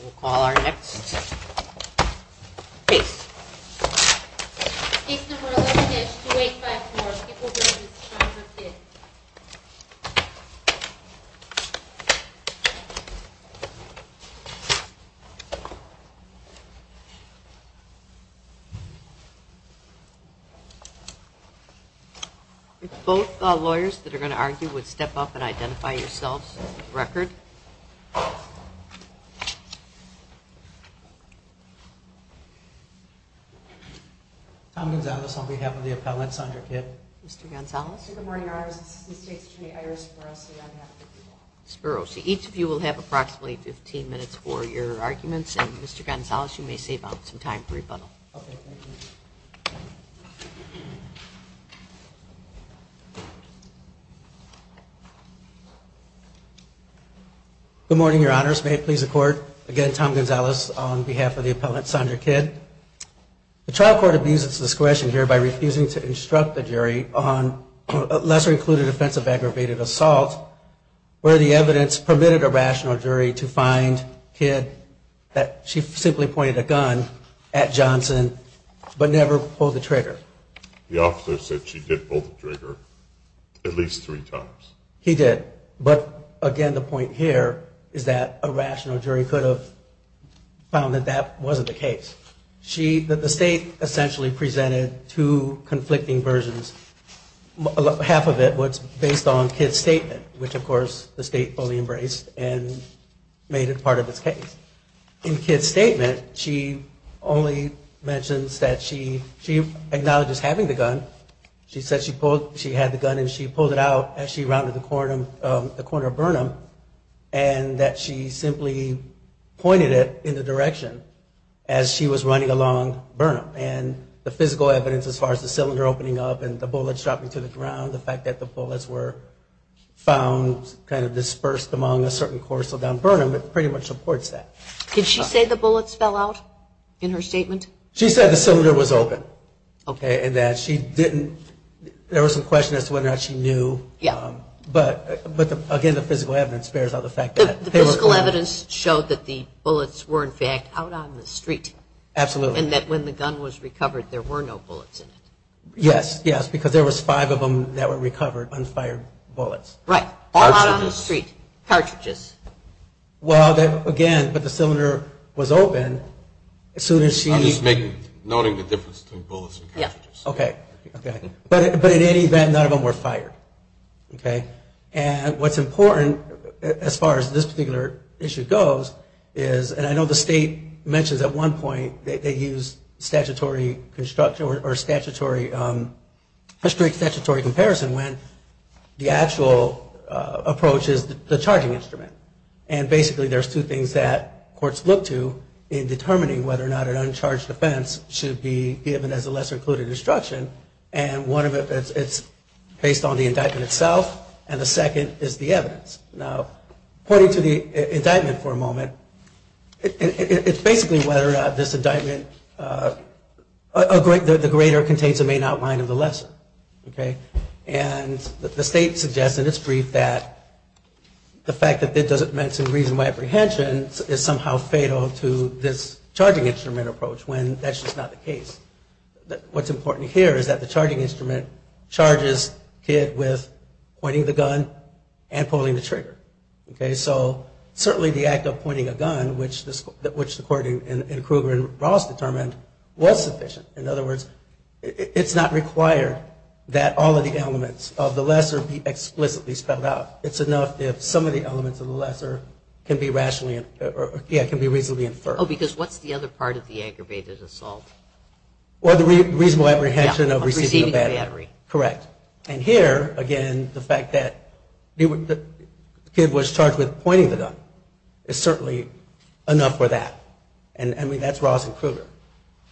We'll call our next case. Both lawyers that are going to argue would step up and identify yourselves for the record. Tom Gonzales on behalf of the appellant, Sandra Kidd. Mr. Gonzales. Good morning, Your Honors. This is the State's Attorney Iris Spuros, and I have 15 minutes. Spuros. Each of you will have approximately 15 minutes for your arguments, and Mr. Gonzales, you may save up some time for rebuttal. Okay, thank you. Good morning, Your Honors. May it please the Court. Again, Tom Gonzales on behalf of the appellant, Sandra Kidd. The trial court abuses this question here by refusing to instruct the jury on lesser-included offensive aggravated assault where the evidence permitted a rational jury to find Kidd that she simply pointed a gun at Johnson but never pulled the trigger. The officer said she did pull the trigger at least three times. He did. But, again, the point here is that a rational jury could have found that that wasn't the case. The State essentially presented two conflicting versions. Half of it was based on Kidd's statement, which, of course, the State fully embraced and made it part of its case. In Kidd's statement, she only mentions that she acknowledges having the gun. She said she had the gun and she pulled it out as she rounded the corner of Burnham and that she simply pointed it in the direction as she was running along Burnham. And the physical evidence as far as the cylinder opening up and the bullets dropping to the ground, the fact that the bullets were found kind of dispersed among a certain course of down Burnham, it pretty much supports that. Did she say the bullets fell out in her statement? She said the cylinder was open. Okay. And that she didn't – there was some question as to whether or not she knew. Yeah. But, again, the physical evidence bears out the fact that – The physical evidence showed that the bullets were, in fact, out on the street. Absolutely. And that when the gun was recovered, there were no bullets in it. Yes, yes, because there was five of them that were recovered, unfired bullets. Right. All out on the street. Cartridges. Cartridges. Well, again, but the cylinder was open as soon as she – I'm just noting the difference between bullets and cartridges. Okay. Okay. But in any event, none of them were fired. Okay. And what's important as far as this particular issue goes is – and I know the state mentions at one point they used statutory construction or statutory – historic statutory comparison when the actual approach is the charging instrument. And basically there's two things that courts look to in determining whether or not an uncharged offense should be given as a lesser included instruction. And one of them is it's based on the indictment itself, and the second is the evidence. Now, pointing to the indictment for a moment, it's basically whether or not this indictment – the greater contains the main outline of the lesser. Okay. And the state suggests in its brief that the fact that it doesn't mention reasonable apprehension is somehow fatal to this charging instrument approach when that's just not the case. What's important here is that the charging instrument charges Kidd with pointing the gun and pulling the trigger. Okay. So certainly the act of pointing a gun, which the court in Kruger and Ross determined, was sufficient. In other words, it's not required that all of the elements of the lesser be explicitly spelled out. It's enough if some of the elements of the lesser can be rationally – yeah, can be reasonably inferred. Oh, because what's the other part of the aggravated assault? Well, the reasonable apprehension of receiving a battery. Receiving a battery. Correct. And here, again, the fact that Kidd was charged with pointing the gun is certainly enough for that. And I mean, that's Ross and Kruger.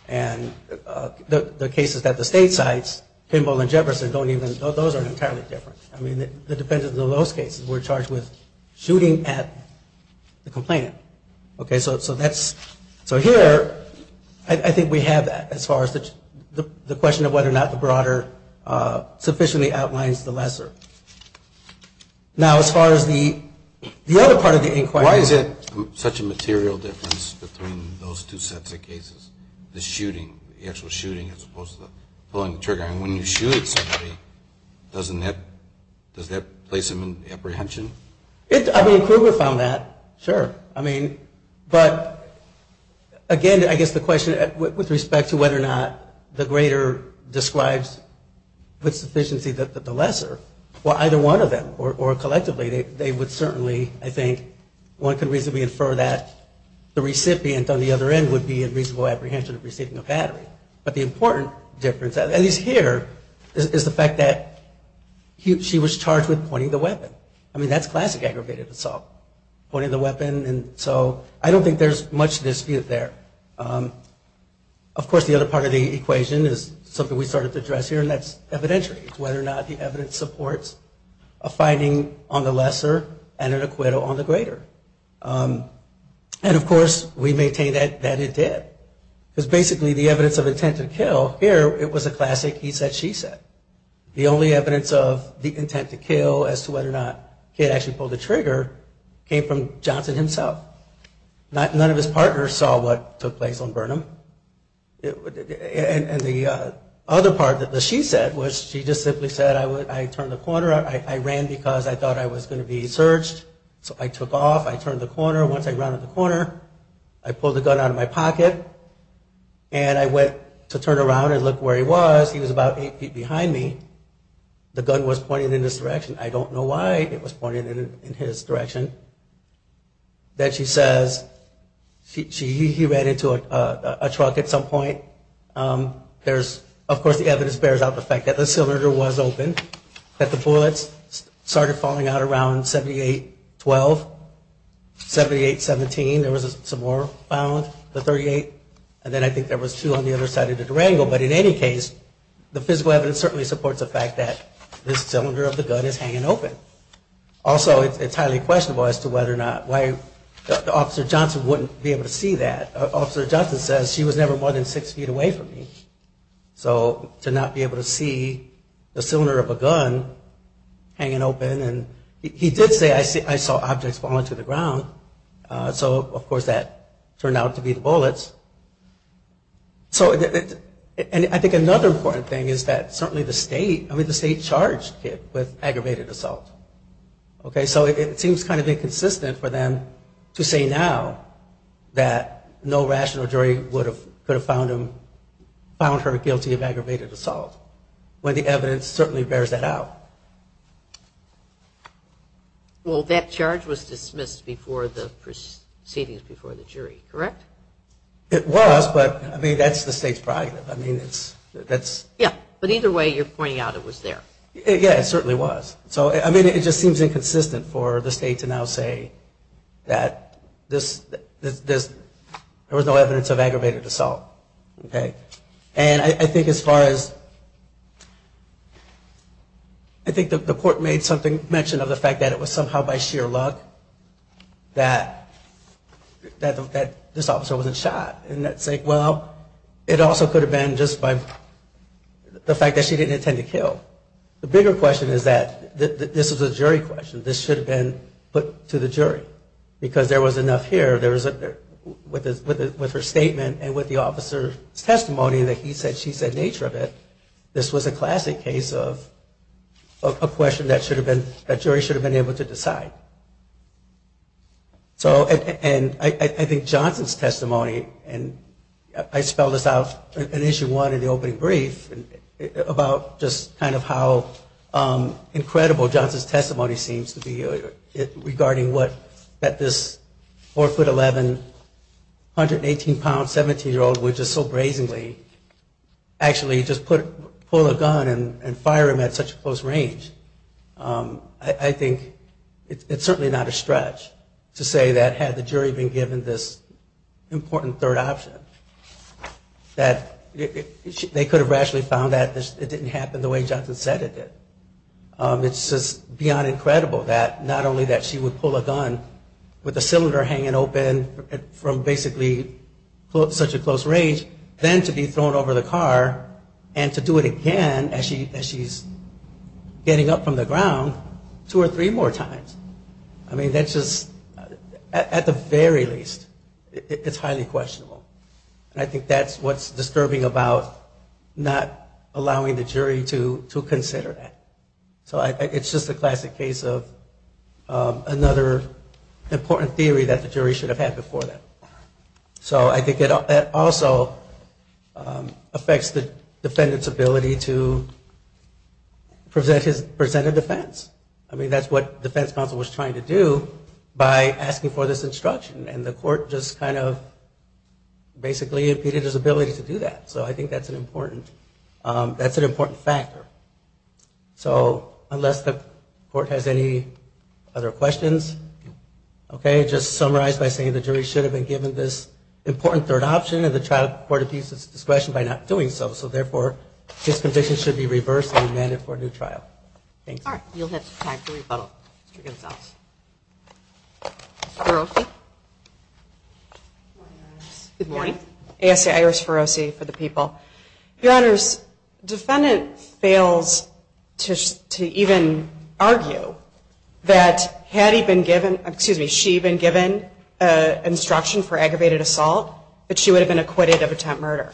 And the cases that the state cites, Pimble and Jefferson, don't even – those are entirely different. I mean, the dependence of those cases, we're charged with shooting at the complainant. Okay. So that's – so here, I think we have that as far as the question of whether or not the broader sufficiently outlines the lesser. Now, as far as the other part of the inquiry. Why is it such a material difference between those two sets of cases, the shooting, the actual shooting as opposed to pulling the trigger? And when you shoot at somebody, doesn't that – does that place them in apprehension? I mean, Kruger found that. Sure. I mean, but, again, I guess the question with respect to whether or not the greater describes with sufficiency the lesser, well, either one of them or collectively, they would certainly, I think, one could reasonably infer that the recipient on the other end would be in reasonable apprehension of receiving a battery. But the important difference, at least here, is the fact that she was charged with pointing the weapon. I mean, that's classic aggravated assault, pointing the weapon. And so I don't think there's much dispute there. Of course, the other part of the equation is something we started to address here, and that's evidentiary. It's whether or not the evidence supports a finding on the lesser and an acquittal on the greater. And, of course, we maintain that it did. Because, basically, the evidence of intent to kill here, it was a classic he said, she said. The only evidence of the intent to kill as to whether or not he had actually pulled the trigger came from Johnson himself. None of his partners saw what took place on Burnham. And the other part that the she said was she just simply said, I turned the corner, I ran because I thought I was going to be searched, so I took off, I turned the corner. Once I rounded the corner, I pulled the gun out of my pocket, and I went to turn around and look where he was. He was about eight feet behind me. The gun was pointing in this direction. I don't know why it was pointing in his direction. Then she says, he ran into a truck at some point. Of course, the evidence bears out the fact that the cylinder was open, that the bullets started falling out around 78-12, 78-17. There was some more found, the 38, and then I think there was two on the other side of the Durango. But in any case, the physical evidence certainly supports the fact that this cylinder of the gun is hanging open. Also, it's highly questionable as to whether or not, why Officer Johnson wouldn't be able to see that. Officer Johnson says, she was never more than six feet away from me. So to not be able to see the cylinder of a gun hanging open. He did say, I saw objects fall into the ground. So, of course, that turned out to be the bullets. I think another important thing is that certainly the state, I mean, the state charged Kip with aggravated assault. So it seems kind of inconsistent for them to say now that no rational jury would have found her guilty of aggravated assault, when the evidence certainly bears that out. Well, that charge was dismissed before the proceedings before the jury, correct? It was, but, I mean, that's the state's prerogative. I mean, that's... Yeah, but either way, you're pointing out it was there. Yeah, it certainly was. So, I mean, it just seems inconsistent for the state to now say that there was no evidence of aggravated assault. Okay? And I think as far as, I think the court made mention of the fact that it was somehow by sheer luck that this officer wasn't shot. And that's like, well, it also could have been just by the fact that she didn't intend to kill. The bigger question is that, this is a jury question, this should have been put to the jury. Because there was enough here, with her statement and with the officer's testimony that he said she said nature of it, this was a classic case of a question that jury should have been able to decide. So, and I think Johnson's testimony, and I spelled this out in Issue 1 in the opening brief, about just kind of how incredible Johnson's testimony seems to be regarding what this 4'11", 118 pound 17-year-old would just so brazenly actually just pull a gun and fire him at such close range. I think it's certainly not a stretch to say that had the jury been given this important third option, that they could have rationally found that it didn't happen the way Johnson said it did. It's just beyond incredible that not only that she would pull a gun with a cylinder hanging open from basically such a close range, then to be thrown over the car and to do it again as she's getting up from the ground two or three more times. I mean, that's just, at the very least, it's highly questionable. And I think that's what's disturbing about not allowing the jury to do that. It's just a classic case of another important theory that the jury should have had before that. So I think that also affects the defendant's ability to present a defense. I mean, that's what defense counsel was trying to do by asking for this instruction. And the court just kind of basically impeded his ability to do that. So I think that's an important factor. So unless the court has any other questions. Okay. Just summarize by saying the jury should have been given this important third option and the trial court appeased its discretion by not doing so. So, therefore, this conviction should be reversed and amended for a new trial. All right. You'll have time to rebuttal. Ms. Gonsalves. Ms. Ferrosi. Good morning. Good morning. A.S.A. Iris Ferrosi for the people. Your Honors, defendant fails to even argue that had he been given, excuse me, she been given instruction for aggravated assault that she would have been acquitted of attempt murder.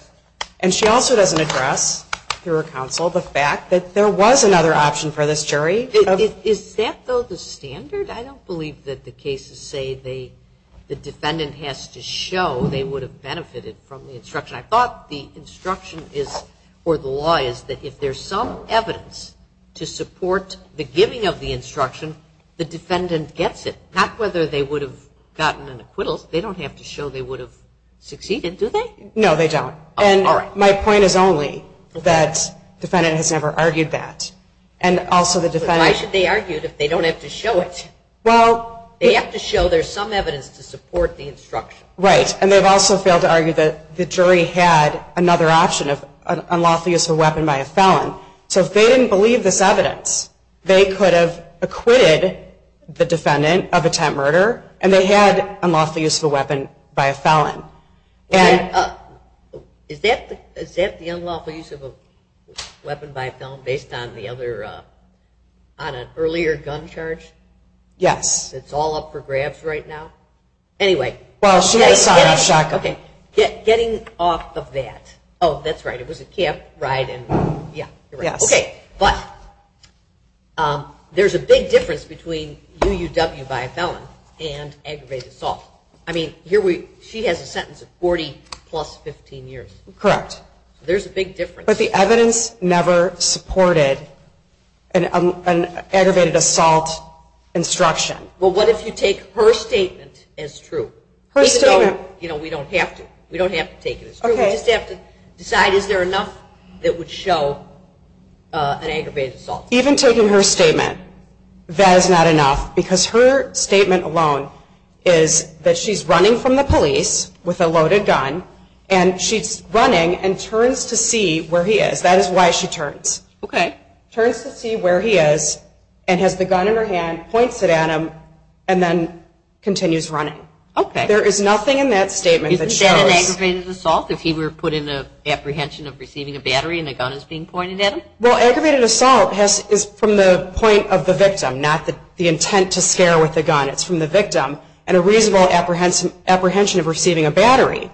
And she also doesn't address through her counsel the fact that there was another option for this jury. Is that, though, the standard? I don't believe that the cases say the defendant has to show they would have benefited from the instruction. I thought the instruction is or the law is that if there's some evidence to support the giving of the instruction, the defendant gets it. Not whether they would have gotten an acquittal. They don't have to show they would have succeeded, do they? No, they don't. All right. And my point is only that defendant has never argued that. And also the defendant Why should they argue if they don't have to show it? Well, they have to show there's some evidence to support the instruction. Right. And they've also failed to argue that the jury had another option of unlawful use of a weapon by a felon. So if they didn't believe this evidence, they could have acquitted the defendant of attempt murder, and they had unlawful use of a weapon by a felon. Is that the unlawful use of a weapon by a felon based on an earlier gun charge? Yes. It's all up for grabs right now? Anyway. Getting off of that. Oh, that's right. It was a cab ride. Yes. Okay. But there's a big difference between UUW by a felon and aggravated assault. I mean, she has a sentence of 40 plus 15 years. Correct. There's a big difference. But the evidence never supported an aggravated assault instruction. Well, what if you take her statement as true? Her statement? You know, we don't have to. We don't have to take it as true. We just have to decide is there enough that would show an aggravated assault? Even taking her statement, that is not enough, because her statement alone is that she's running from the police with a loaded gun, and she's running and turns to see where he is. That is why she turns. Okay. Turns to see where he is and has the gun in her hand, points it at him, and then continues running. Okay. There is nothing in that statement that shows. Isn't that an aggravated assault if he were put in a apprehension of receiving a battery and the gun is being pointed at him? Well, aggravated assault is from the point of the victim, not the intent to scare with the gun. It's from the victim and a reasonable apprehension of receiving a battery.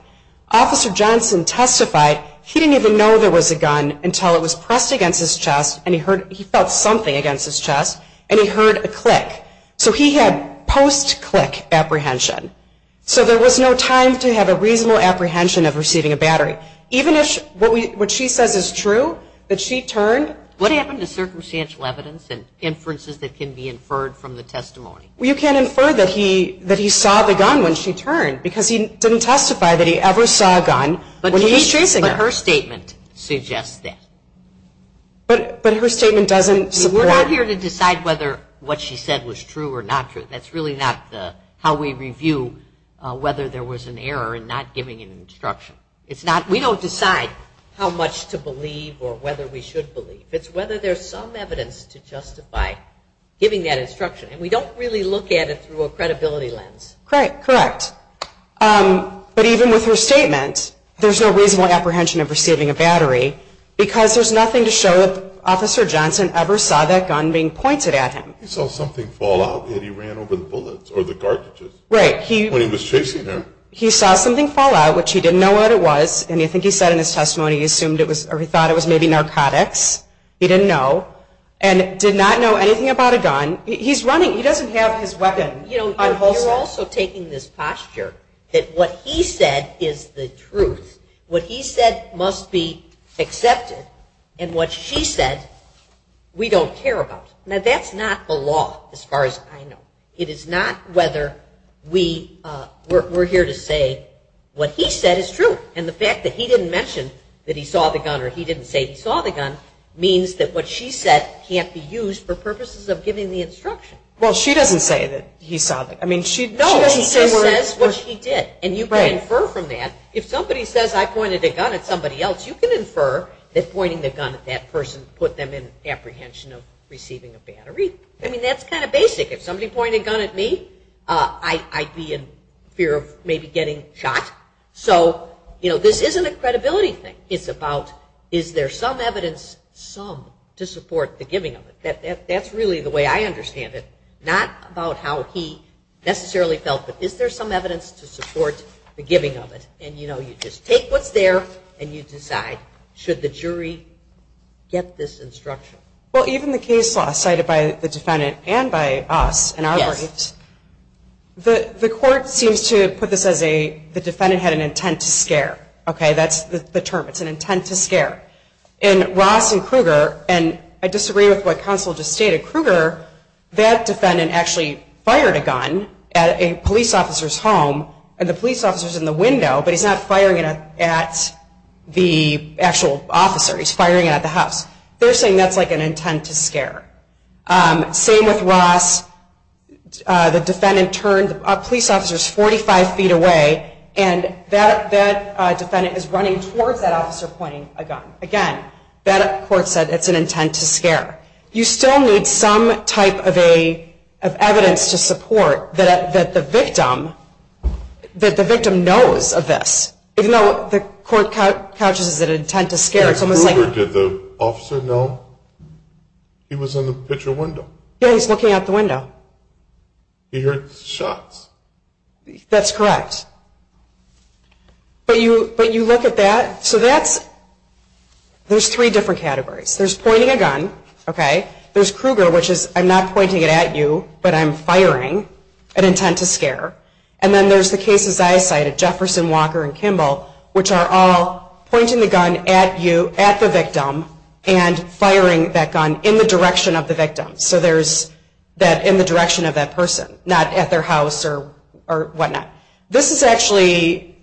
Officer Johnson testified he didn't even know there was a gun until it was pressed against his chest, and he felt something against his chest, and he heard a click. So he had post-click apprehension. So there was no time to have a reasonable apprehension of receiving a battery. Even if what she says is true, that she turned. What happened to circumstantial evidence and inferences that can be inferred from the testimony? Well, you can't infer that he saw the gun when she turned, because he didn't testify that he ever saw a gun when he was chasing her. But her statement suggests that. But her statement doesn't support. We're not here to decide whether what she said was true or not true. That's really not how we review whether there was an error in not giving an instruction. We don't decide how much to believe or whether we should believe. It's whether there's some evidence to justify giving that instruction, and we don't really look at it through a credibility lens. Correct. But even with her statement, there's no reasonable apprehension of receiving a battery, because there's nothing to show that Officer Johnson ever saw that gun being pointed at him. He saw something fall out, and he ran over the bullets or the garbages. Right. When he was chasing her. He saw something fall out, which he didn't know what it was, and I think he said in his testimony he assumed it was, or he thought it was maybe narcotics. He didn't know, and did not know anything about a gun. He's running. He doesn't have his weapon. You're also taking this posture that what he said is the truth. What he said must be accepted, and what she said we don't care about. Now, that's not the law as far as I know. It is not whether we're here to say what he said is true, and the fact that he didn't mention that he saw the gun or he didn't say he saw the gun means that what she said can't be used for purposes of giving the instruction. Well, she doesn't say that he saw the gun. No, she says what she did, and you can infer from that. If somebody says I pointed a gun at somebody else, you can infer that pointing the gun at that person put them in apprehension of receiving a battery. I mean, that's kind of basic. If somebody pointed a gun at me, I'd be in fear of maybe getting shot. So, you know, this isn't a credibility thing. It's about is there some evidence, some, to support the giving of it. That's really the way I understand it. Not about how he necessarily felt, but is there some evidence to support the giving of it. And, you know, you just take what's there, and you decide should the jury get this instruction. Well, even the case law cited by the defendant and by us in our briefs, the court seems to put this as the defendant had an intent to scare. Okay, that's the term. It's an intent to scare. In Ross and Kruger, and I disagree with what counsel just stated, Kruger, that defendant actually fired a gun at a police officer's home, and the police officer's in the window, but he's not firing it at the actual officer. He's firing it at the house. They're saying that's like an intent to scare. Same with Ross. The defendant turned, the police officer's 45 feet away, and that defendant is running towards that officer pointing a gun. Again, that court said it's an intent to scare. You still need some type of evidence to support that the victim knows of this, even though the court counts it as an intent to scare. In Kruger, did the officer know he was in the picture window? Yeah, he's looking out the window. He heard shots. That's correct. But you look at that. So there's three different categories. There's pointing a gun. There's Kruger, which is I'm not pointing it at you, but I'm firing an intent to scare. And then there's the cases I cited, Jefferson, Walker, and Kimball, which are all pointing the gun at the victim and firing that gun in the direction of the victim, so in the direction of that person, not at their house or whatnot. This is actually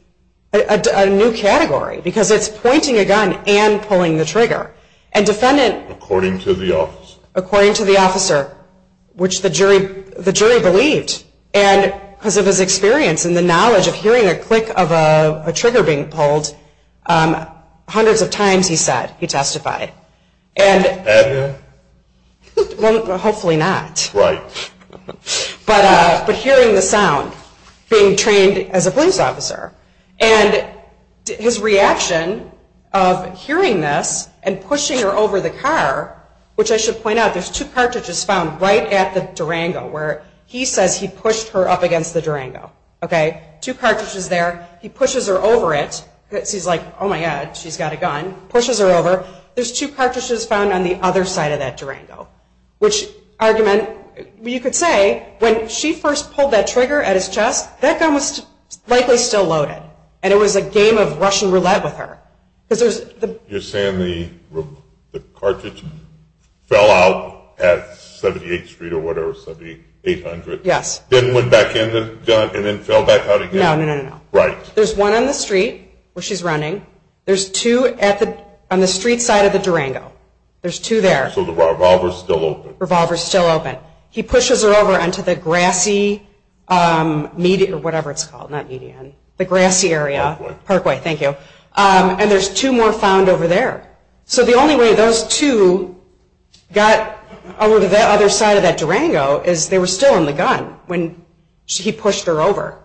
a new category because it's pointing a gun and pulling the trigger. According to the officer. According to the officer, which the jury believed. And because of his experience and the knowledge of hearing a click of a trigger being pulled, hundreds of times he testified. Had he? Hopefully not. Right. But hearing the sound, being trained as a police officer, and his reaction of hearing this and pushing her over the car, which I should point out there's two cartridges found right at the Durango where he says he pushed her up against the Durango. Two cartridges there. He pushes her over it because he's like, oh, my God, she's got a gun. Pushes her over. There's two cartridges found on the other side of that Durango. Which argument, you could say when she first pulled that trigger at his chest, that gun was likely still loaded, and it was a game of Russian roulette with her. You're saying the cartridge fell out at 78th Street or whatever, 7800. Yes. Then went back in the gun and then fell back out again. No, no, no, no. Right. There's one on the street where she's running. There's two on the street side of the Durango. There's two there. So the revolver's still open. Revolver's still open. He pushes her over onto the grassy median or whatever it's called, not median, the grassy area. Parkway. Parkway, thank you. And there's two more found over there. So the only way those two got over to the other side of that Durango is they were still in the gun when he pushed her over.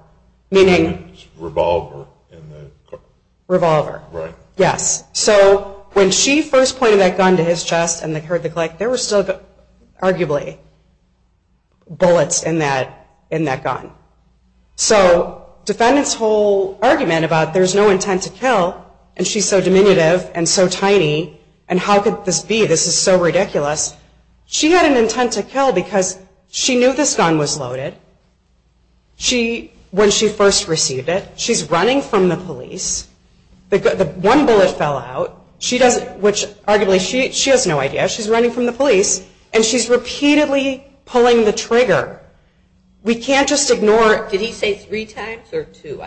Meaning? Revolver. Revolver. Right. Yes. So when she first pointed that gun to his chest and heard the click, there were still arguably bullets in that gun. So defendant's whole argument about there's no intent to kill, and she's so diminutive and so tiny, and how could this be? This is so ridiculous. She had an intent to kill because she knew this gun was loaded. When she first received it, she's running from the police. One bullet fell out, which arguably she has no idea. She's running from the police, and she's repeatedly pulling the trigger. We can't just ignore it. Did he say three times or two?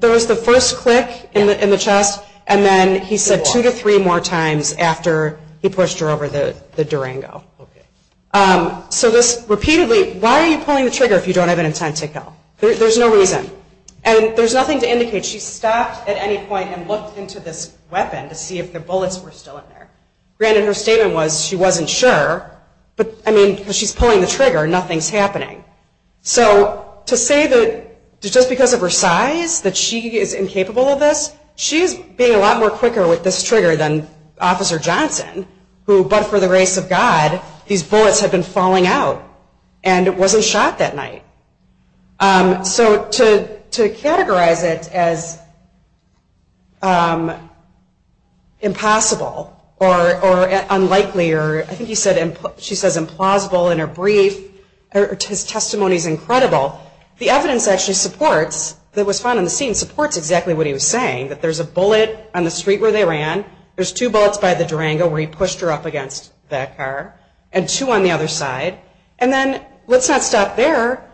There was the first click in the chest, and then he said two to three more times after he pushed her over the Durango. So this repeatedly, why are you pulling the trigger if you don't have an intent to kill? There's no reason. And there's nothing to indicate. She stopped at any point and looked into this weapon to see if the bullets were still in there. Granted, her statement was she wasn't sure, but, I mean, because she's pulling the trigger, nothing's happening. So to say that just because of her size that she is incapable of this, she's being a lot more quicker with this trigger than Officer Johnson, who, but for the grace of God, these bullets had been falling out and it wasn't shot that night. So to categorize it as impossible or unlikely, or I think she says implausible in her brief, his testimony is incredible, the evidence actually supports, that was found on the scene, supports exactly what he was saying, that there's a bullet on the street where they ran, there's two bullets by the Durango where he pushed her up against that car, and two on the other side, and then, let's not stop there,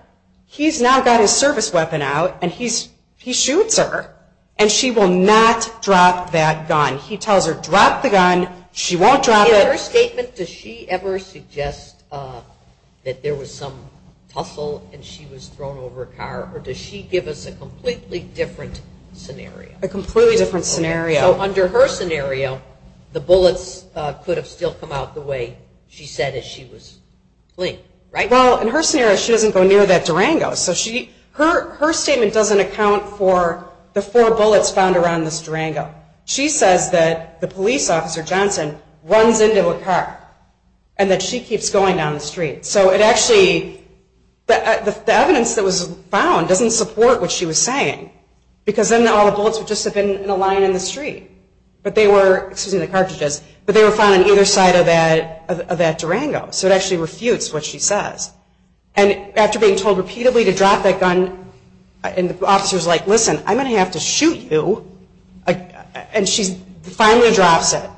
he's now got his service weapon out and he shoots her, and she will not drop that gun. He tells her, drop the gun, she won't drop it. In her statement, does she ever suggest that there was some tussle and she was thrown over a car, or does she give us a completely different scenario? A completely different scenario. So under her scenario, the bullets could have still come out the way she said as she was fleeing, right? Well, in her scenario, she doesn't go near that Durango. So her statement doesn't account for the four bullets found around this Durango. She says that the police officer, Johnson, runs into a car and that she keeps going down the street. So it actually, the evidence that was found doesn't support what she was saying because then all the bullets would just have been in a line in the street. But they were, excuse me, the cartridges, but they were found on either side of that Durango. So it actually refutes what she says. And after being told repeatedly to drop that gun, and the officer's like, listen, I'm going to have to shoot you, and she finally drops it,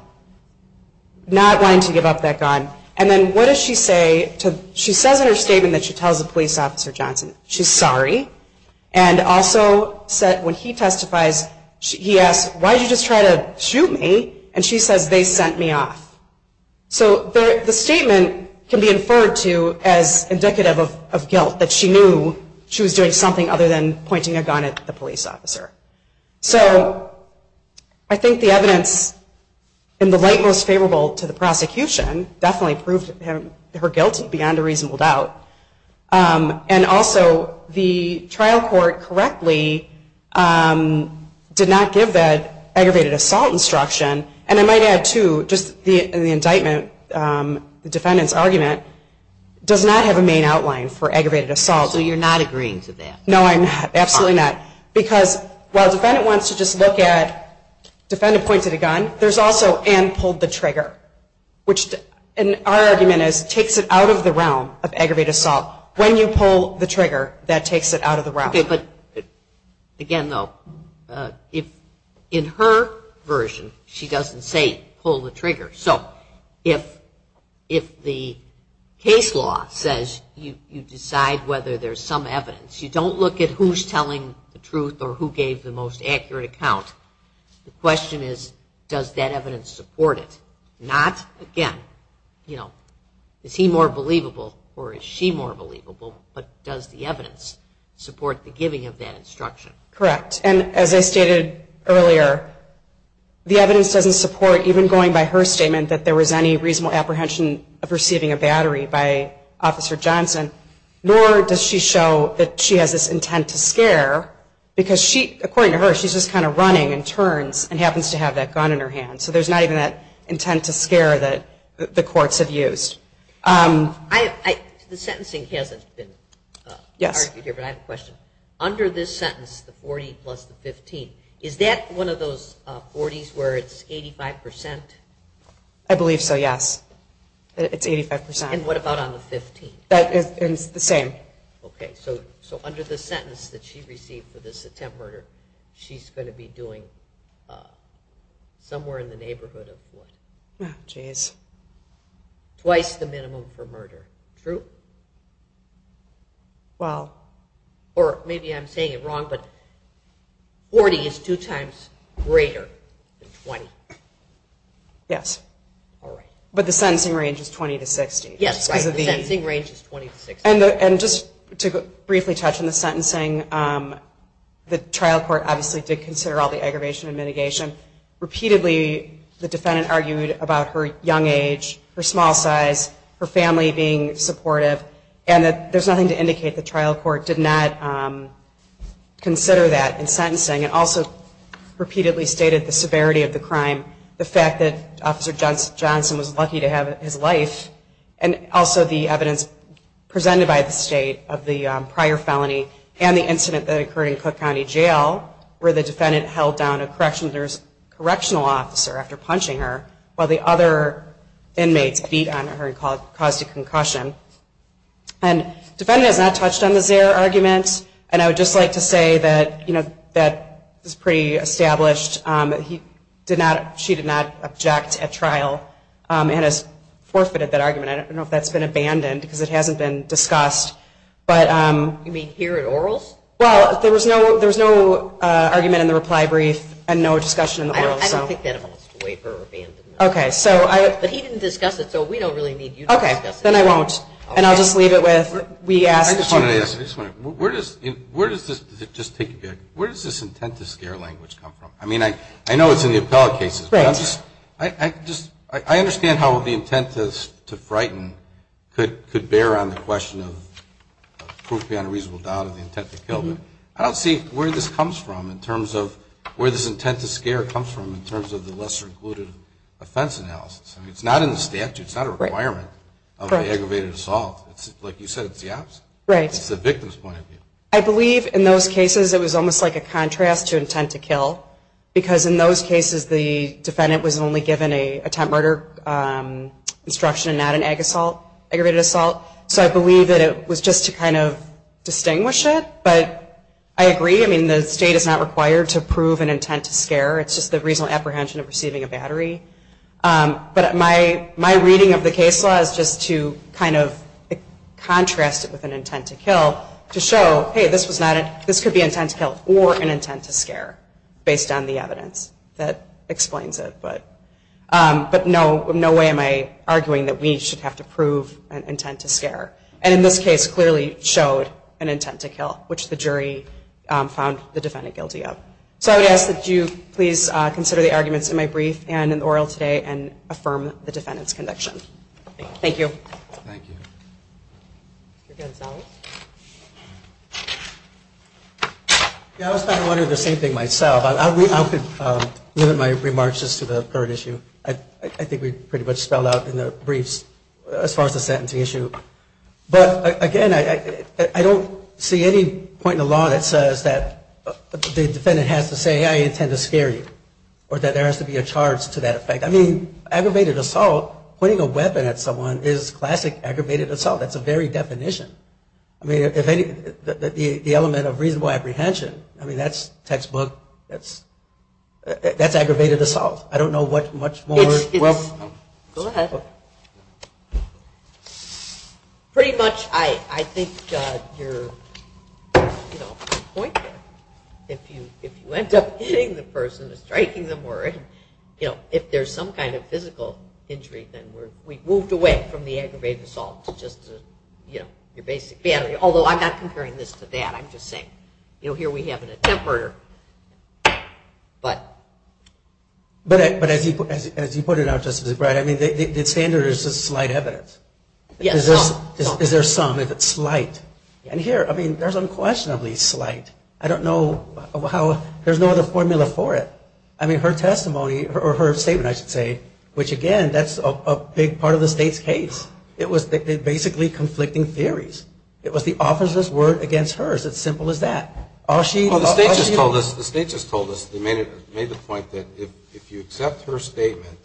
not wanting to give up that gun. And then what does she say? She says in her statement that she tells the police officer, Johnson, she's sorry, and also said when he testifies, he asks, why did you just try to shoot me? And she says, they sent me off. So the statement can be inferred to as indicative of guilt, that she knew she was doing something other than pointing a gun at the police officer. So I think the evidence in the light most favorable to the prosecution definitely proved her guilty beyond a reasonable doubt. And also, the trial court correctly did not give that aggravated assault instruction. And I might add, too, just in the indictment, the defendant's argument does not have a main outline for aggravated assault. So you're not agreeing to that? No, I'm not, absolutely not. Because while the defendant wants to just look at, which our argument is takes it out of the realm of aggravated assault. When you pull the trigger, that takes it out of the realm. Okay, but again, though, in her version, she doesn't say pull the trigger. So if the case law says you decide whether there's some evidence, you don't look at who's telling the truth or who gave the most accurate account. The question is, does that evidence support it? Not, again, you know, is he more believable or is she more believable, but does the evidence support the giving of that instruction? Correct. And as I stated earlier, the evidence doesn't support even going by her statement that there was any reasonable apprehension of receiving a battery by Officer Johnson, nor does she show that she has this intent to scare, because according to her, she's just kind of running and turns and happens to have that gun in her hand. So there's not even that intent to scare that the courts have used. The sentencing hasn't been argued here, but I have a question. Under this sentence, the 40 plus the 15, is that one of those 40s where it's 85%? I believe so, yes. It's 85%. And what about on the 15? It's the same. Okay, so under the sentence that she received for this attempt murder, she's going to be doing somewhere in the neighborhood of what? Oh, geez. Twice the minimum for murder, true? Well. Or maybe I'm saying it wrong, but 40 is two times greater than 20. Yes. All right. But the sentencing range is 20 to 60. Yes, right, the sentencing range is 20 to 60. And just to briefly touch on the sentencing, the trial court obviously did consider all the aggravation and mitigation. Repeatedly the defendant argued about her young age, her small size, her family being supportive, and that there's nothing to indicate the trial court did not consider that in sentencing and also repeatedly stated the severity of the crime, the fact that Officer Johnson was lucky to have his life, and also the evidence presented by the state of the prior felony and the incident that occurred in Cook County Jail where the defendant held down a correctional officer after punching her while the other inmates beat on her and caused a concussion. And the defendant has not touched on the Zare argument, and I would just like to say that that is pretty established. And I don't know if that's been abandoned because it hasn't been discussed. You mean here at Orals? Well, there was no argument in the reply brief and no discussion in the Orals. I don't think that holds sway for abandonment. Okay. But he didn't discuss it, so we don't really need you to discuss it. Okay. Then I won't, and I'll just leave it with we asked. I just wanted to ask, where does this intent to scare language come from? I mean, I know it's in the appellate cases, but I understand how the intent to frighten could bear on the question of proof beyond a reasonable doubt of the intent to kill, but I don't see where this comes from in terms of where this intent to scare comes from in terms of the lesser included offense analysis. I mean, it's not in the statute. It's not a requirement of the aggravated assault. Like you said, it's the opposite. Right. It's the victim's point of view. I believe in those cases it was almost like a contrast to intent to kill because in those cases the defendant was only given a attempt murder instruction and not an aggravated assault. So I believe that it was just to kind of distinguish it, but I agree. I mean, the state is not required to prove an intent to scare. It's just the reasonable apprehension of receiving a battery. But my reading of the case law is just to kind of contrast it with an intent to kill to show, hey, this could be an intent to kill or an intent to scare based on the evidence. That explains it. But no way am I arguing that we should have to prove an intent to scare. And in this case clearly showed an intent to kill, which the jury found the defendant guilty of. So I would ask that you please consider the arguments in my brief and in the oral today and affirm the defendant's conviction. Thank you. Thank you. Mr. Gonzalez? Yeah, I was kind of wondering the same thing myself. I'll limit my remarks just to the current issue. I think we pretty much spelled out in the briefs as far as the sentencing issue. But, again, I don't see any point in the law that says that the defendant has to say, hey, I intend to scare you or that there has to be a charge to that effect. I mean, aggravated assault, putting a weapon at someone is classic aggravated assault. That's a very definition. I mean, the element of reasonable apprehension, I mean, that's textbook. That's aggravated assault. I don't know what much more. Go ahead. Pretty much I think you're, you know, point there. If you end up hitting the person or striking them or, you know, if there's some kind of physical injury, then we've moved away from the aggravated assault to just, you know, your basic battery. Although I'm not comparing this to that. I'm just saying, you know, here we have an attemper. But as you put it out, Justice Breyer, I mean, the standard is just slight evidence. Is there some if it's slight? And here, I mean, there's unquestionably slight. I don't know how there's no other formula for it. I mean, her testimony or her statement, I should say, which, again, that's a big part of the state's case. It was basically conflicting theories. It was the officer's word against hers. It's simple as that. The state just told us, made the point that if you accept her statement,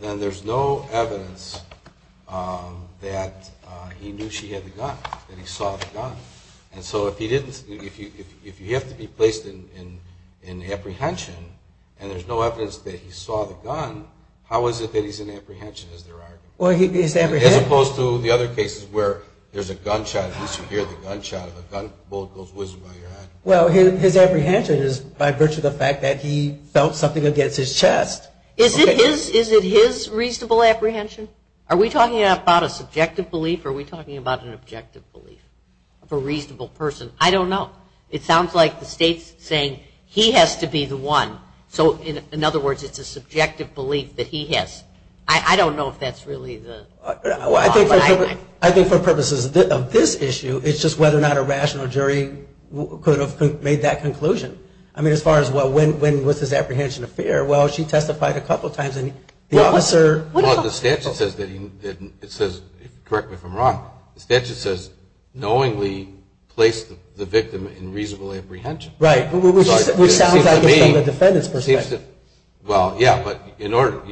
then there's no evidence that he knew she had the gun, that he saw the gun. And so if you have to be placed in apprehension and there's no evidence that he saw the gun, how is it that he's in apprehension, as there are? Well, he's apprehended. As opposed to the other cases where there's a gunshot, at least you hear the gunshot or the bullet goes whizzing by your head. Well, his apprehension is by virtue of the fact that he felt something against his chest. Is it his reasonable apprehension? Are we talking about a subjective belief or are we talking about an objective belief? A reasonable person. I don't know. It sounds like the state's saying he has to be the one. So, in other words, it's a subjective belief that he has. I don't know if that's really the law. Well, I think for purposes of this issue, it's just whether or not a rational jury could have made that conclusion. I mean, as far as, well, when was his apprehension a fair? Well, she testified a couple of times and the officer. Well, the statute says, correct me if I'm wrong, the statute says knowingly placed the victim in reasonable apprehension. Right, which sounds like it's from the defendant's perspective. Well, yeah, but in order,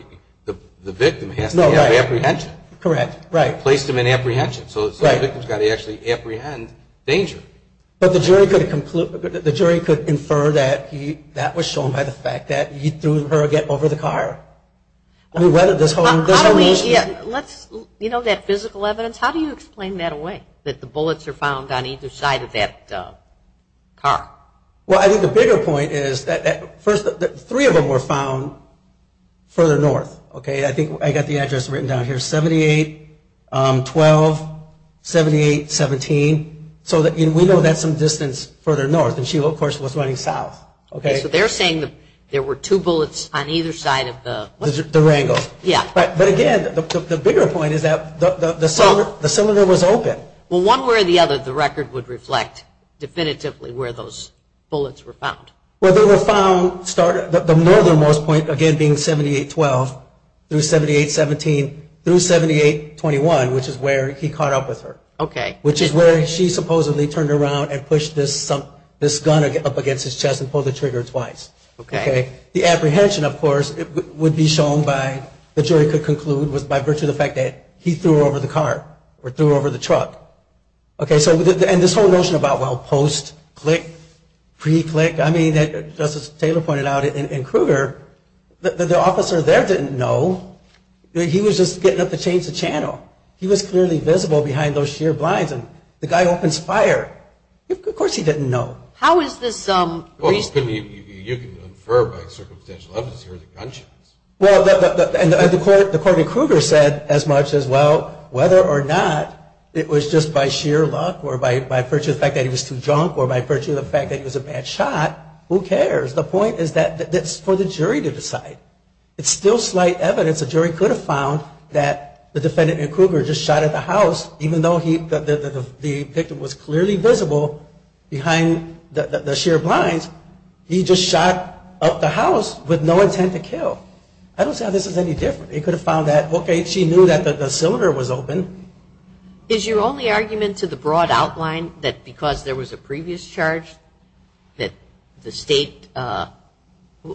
the victim has to have apprehension. Correct, right. Placed him in apprehension. So the victim's got to actually apprehend danger. But the jury could infer that that was shown by the fact that he threw her over the car. I mean, whether this whole issue. You know that physical evidence? How do you explain that away, that the bullets are found on either side of that car? Well, I think the bigger point is that three of them were found further north. I think I've got the address written down here, 78-12-78-17. So we know that's some distance further north. And she, of course, was running south. Okay. So they're saying that there were two bullets on either side of the... The Wrangler. Yeah. But, again, the bigger point is that the cylinder was open. Well, one way or the other, the record would reflect definitively where those bullets were found. Well, they were found, the northernmost point, again, being 78-12-78-17 through 78-21, which is where he caught up with her, which is where she supposedly turned around and pushed this gun up against his chest and pulled the trigger twice. The apprehension, of course, would be shown by, the jury could conclude, was by virtue of the fact that he threw her over the car or threw her over the truck. And this whole notion about, well, post-click, pre-click, I mean, as Justice Taylor pointed out in Kruger, the officer there didn't know. He was just getting up to change the channel. He was clearly visible behind those sheer blinds, and the guy opens fire. Of course he didn't know. How is this... Well, you can infer by circumstantial evidence he was a gunshot. Well, and the court in Kruger said as much as, well, whether or not it was just by sheer luck or by virtue of the fact that he was too drunk or by virtue of the fact that he was a bad shot, who cares? The point is that it's for the jury to decide. It's still slight evidence the jury could have found that the defendant in Kruger just shot at the house, even though the victim was clearly visible behind the sheer blinds. He just shot up the house with no intent to kill. I don't see how this is any different. They could have found that, okay, she knew that the cylinder was open. Is your only argument to the broad outline that because there was a previous charge that the state... They're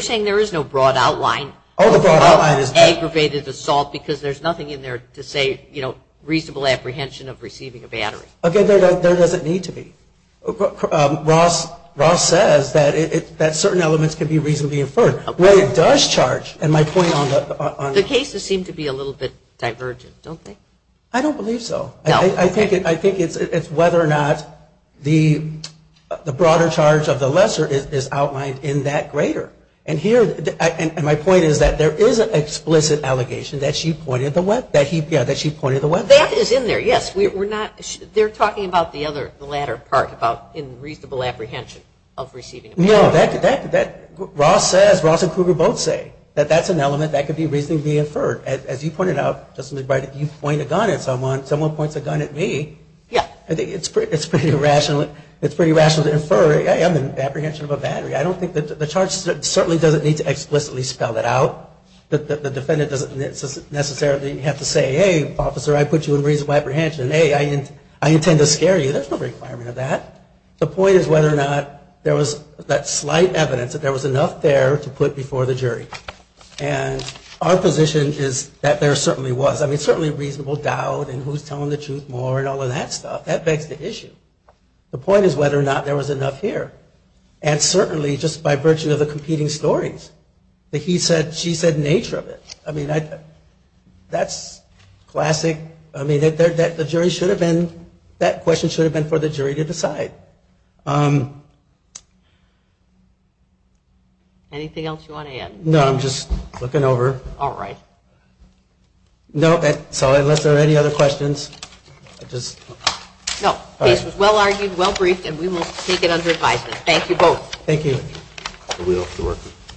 saying there is no broad outline of aggravated assault because there's nothing in there to say, you know, reasonable apprehension of receiving a battery. Okay, there doesn't need to be. Ross says that certain elements can be reasonably inferred. What it does charge, and my point on... The cases seem to be a little bit divergent, don't they? I don't believe so. No. I think it's whether or not the broader charge of the lesser is outlined in that greater. And my point is that there is an explicit allegation that she pointed the weapon. That is in there, yes. They're talking about the latter part about reasonable apprehension of receiving a battery. No, Ross and Kruger both say that that's an element that could be reasonably inferred. As you pointed out, Justice McBride, if you point a gun at someone, someone points a gun at me. I think it's pretty rational to infer, hey, I'm in apprehension of a battery. I don't think that the charge certainly doesn't need to explicitly spell that out. The defendant doesn't necessarily have to say, hey, officer, I put you in reasonable apprehension. Hey, I intend to scare you. There's no requirement of that. The point is whether or not there was that slight evidence that there was enough there to put before the jury. And our position is that there certainly was. I mean, certainly reasonable doubt and who's telling the truth more and all of that stuff, that begs the issue. The point is whether or not there was enough here. And certainly just by virtue of the competing stories that he said, she said nature of it. I mean, that's classic. I mean, the jury should have been, that question should have been for the jury to decide. Okay. Anything else you want to add? No, I'm just looking over. All right. No, unless there are any other questions. No, this was well-argued, well-briefed, and we will take it under advisement. Thank you both. Thank you.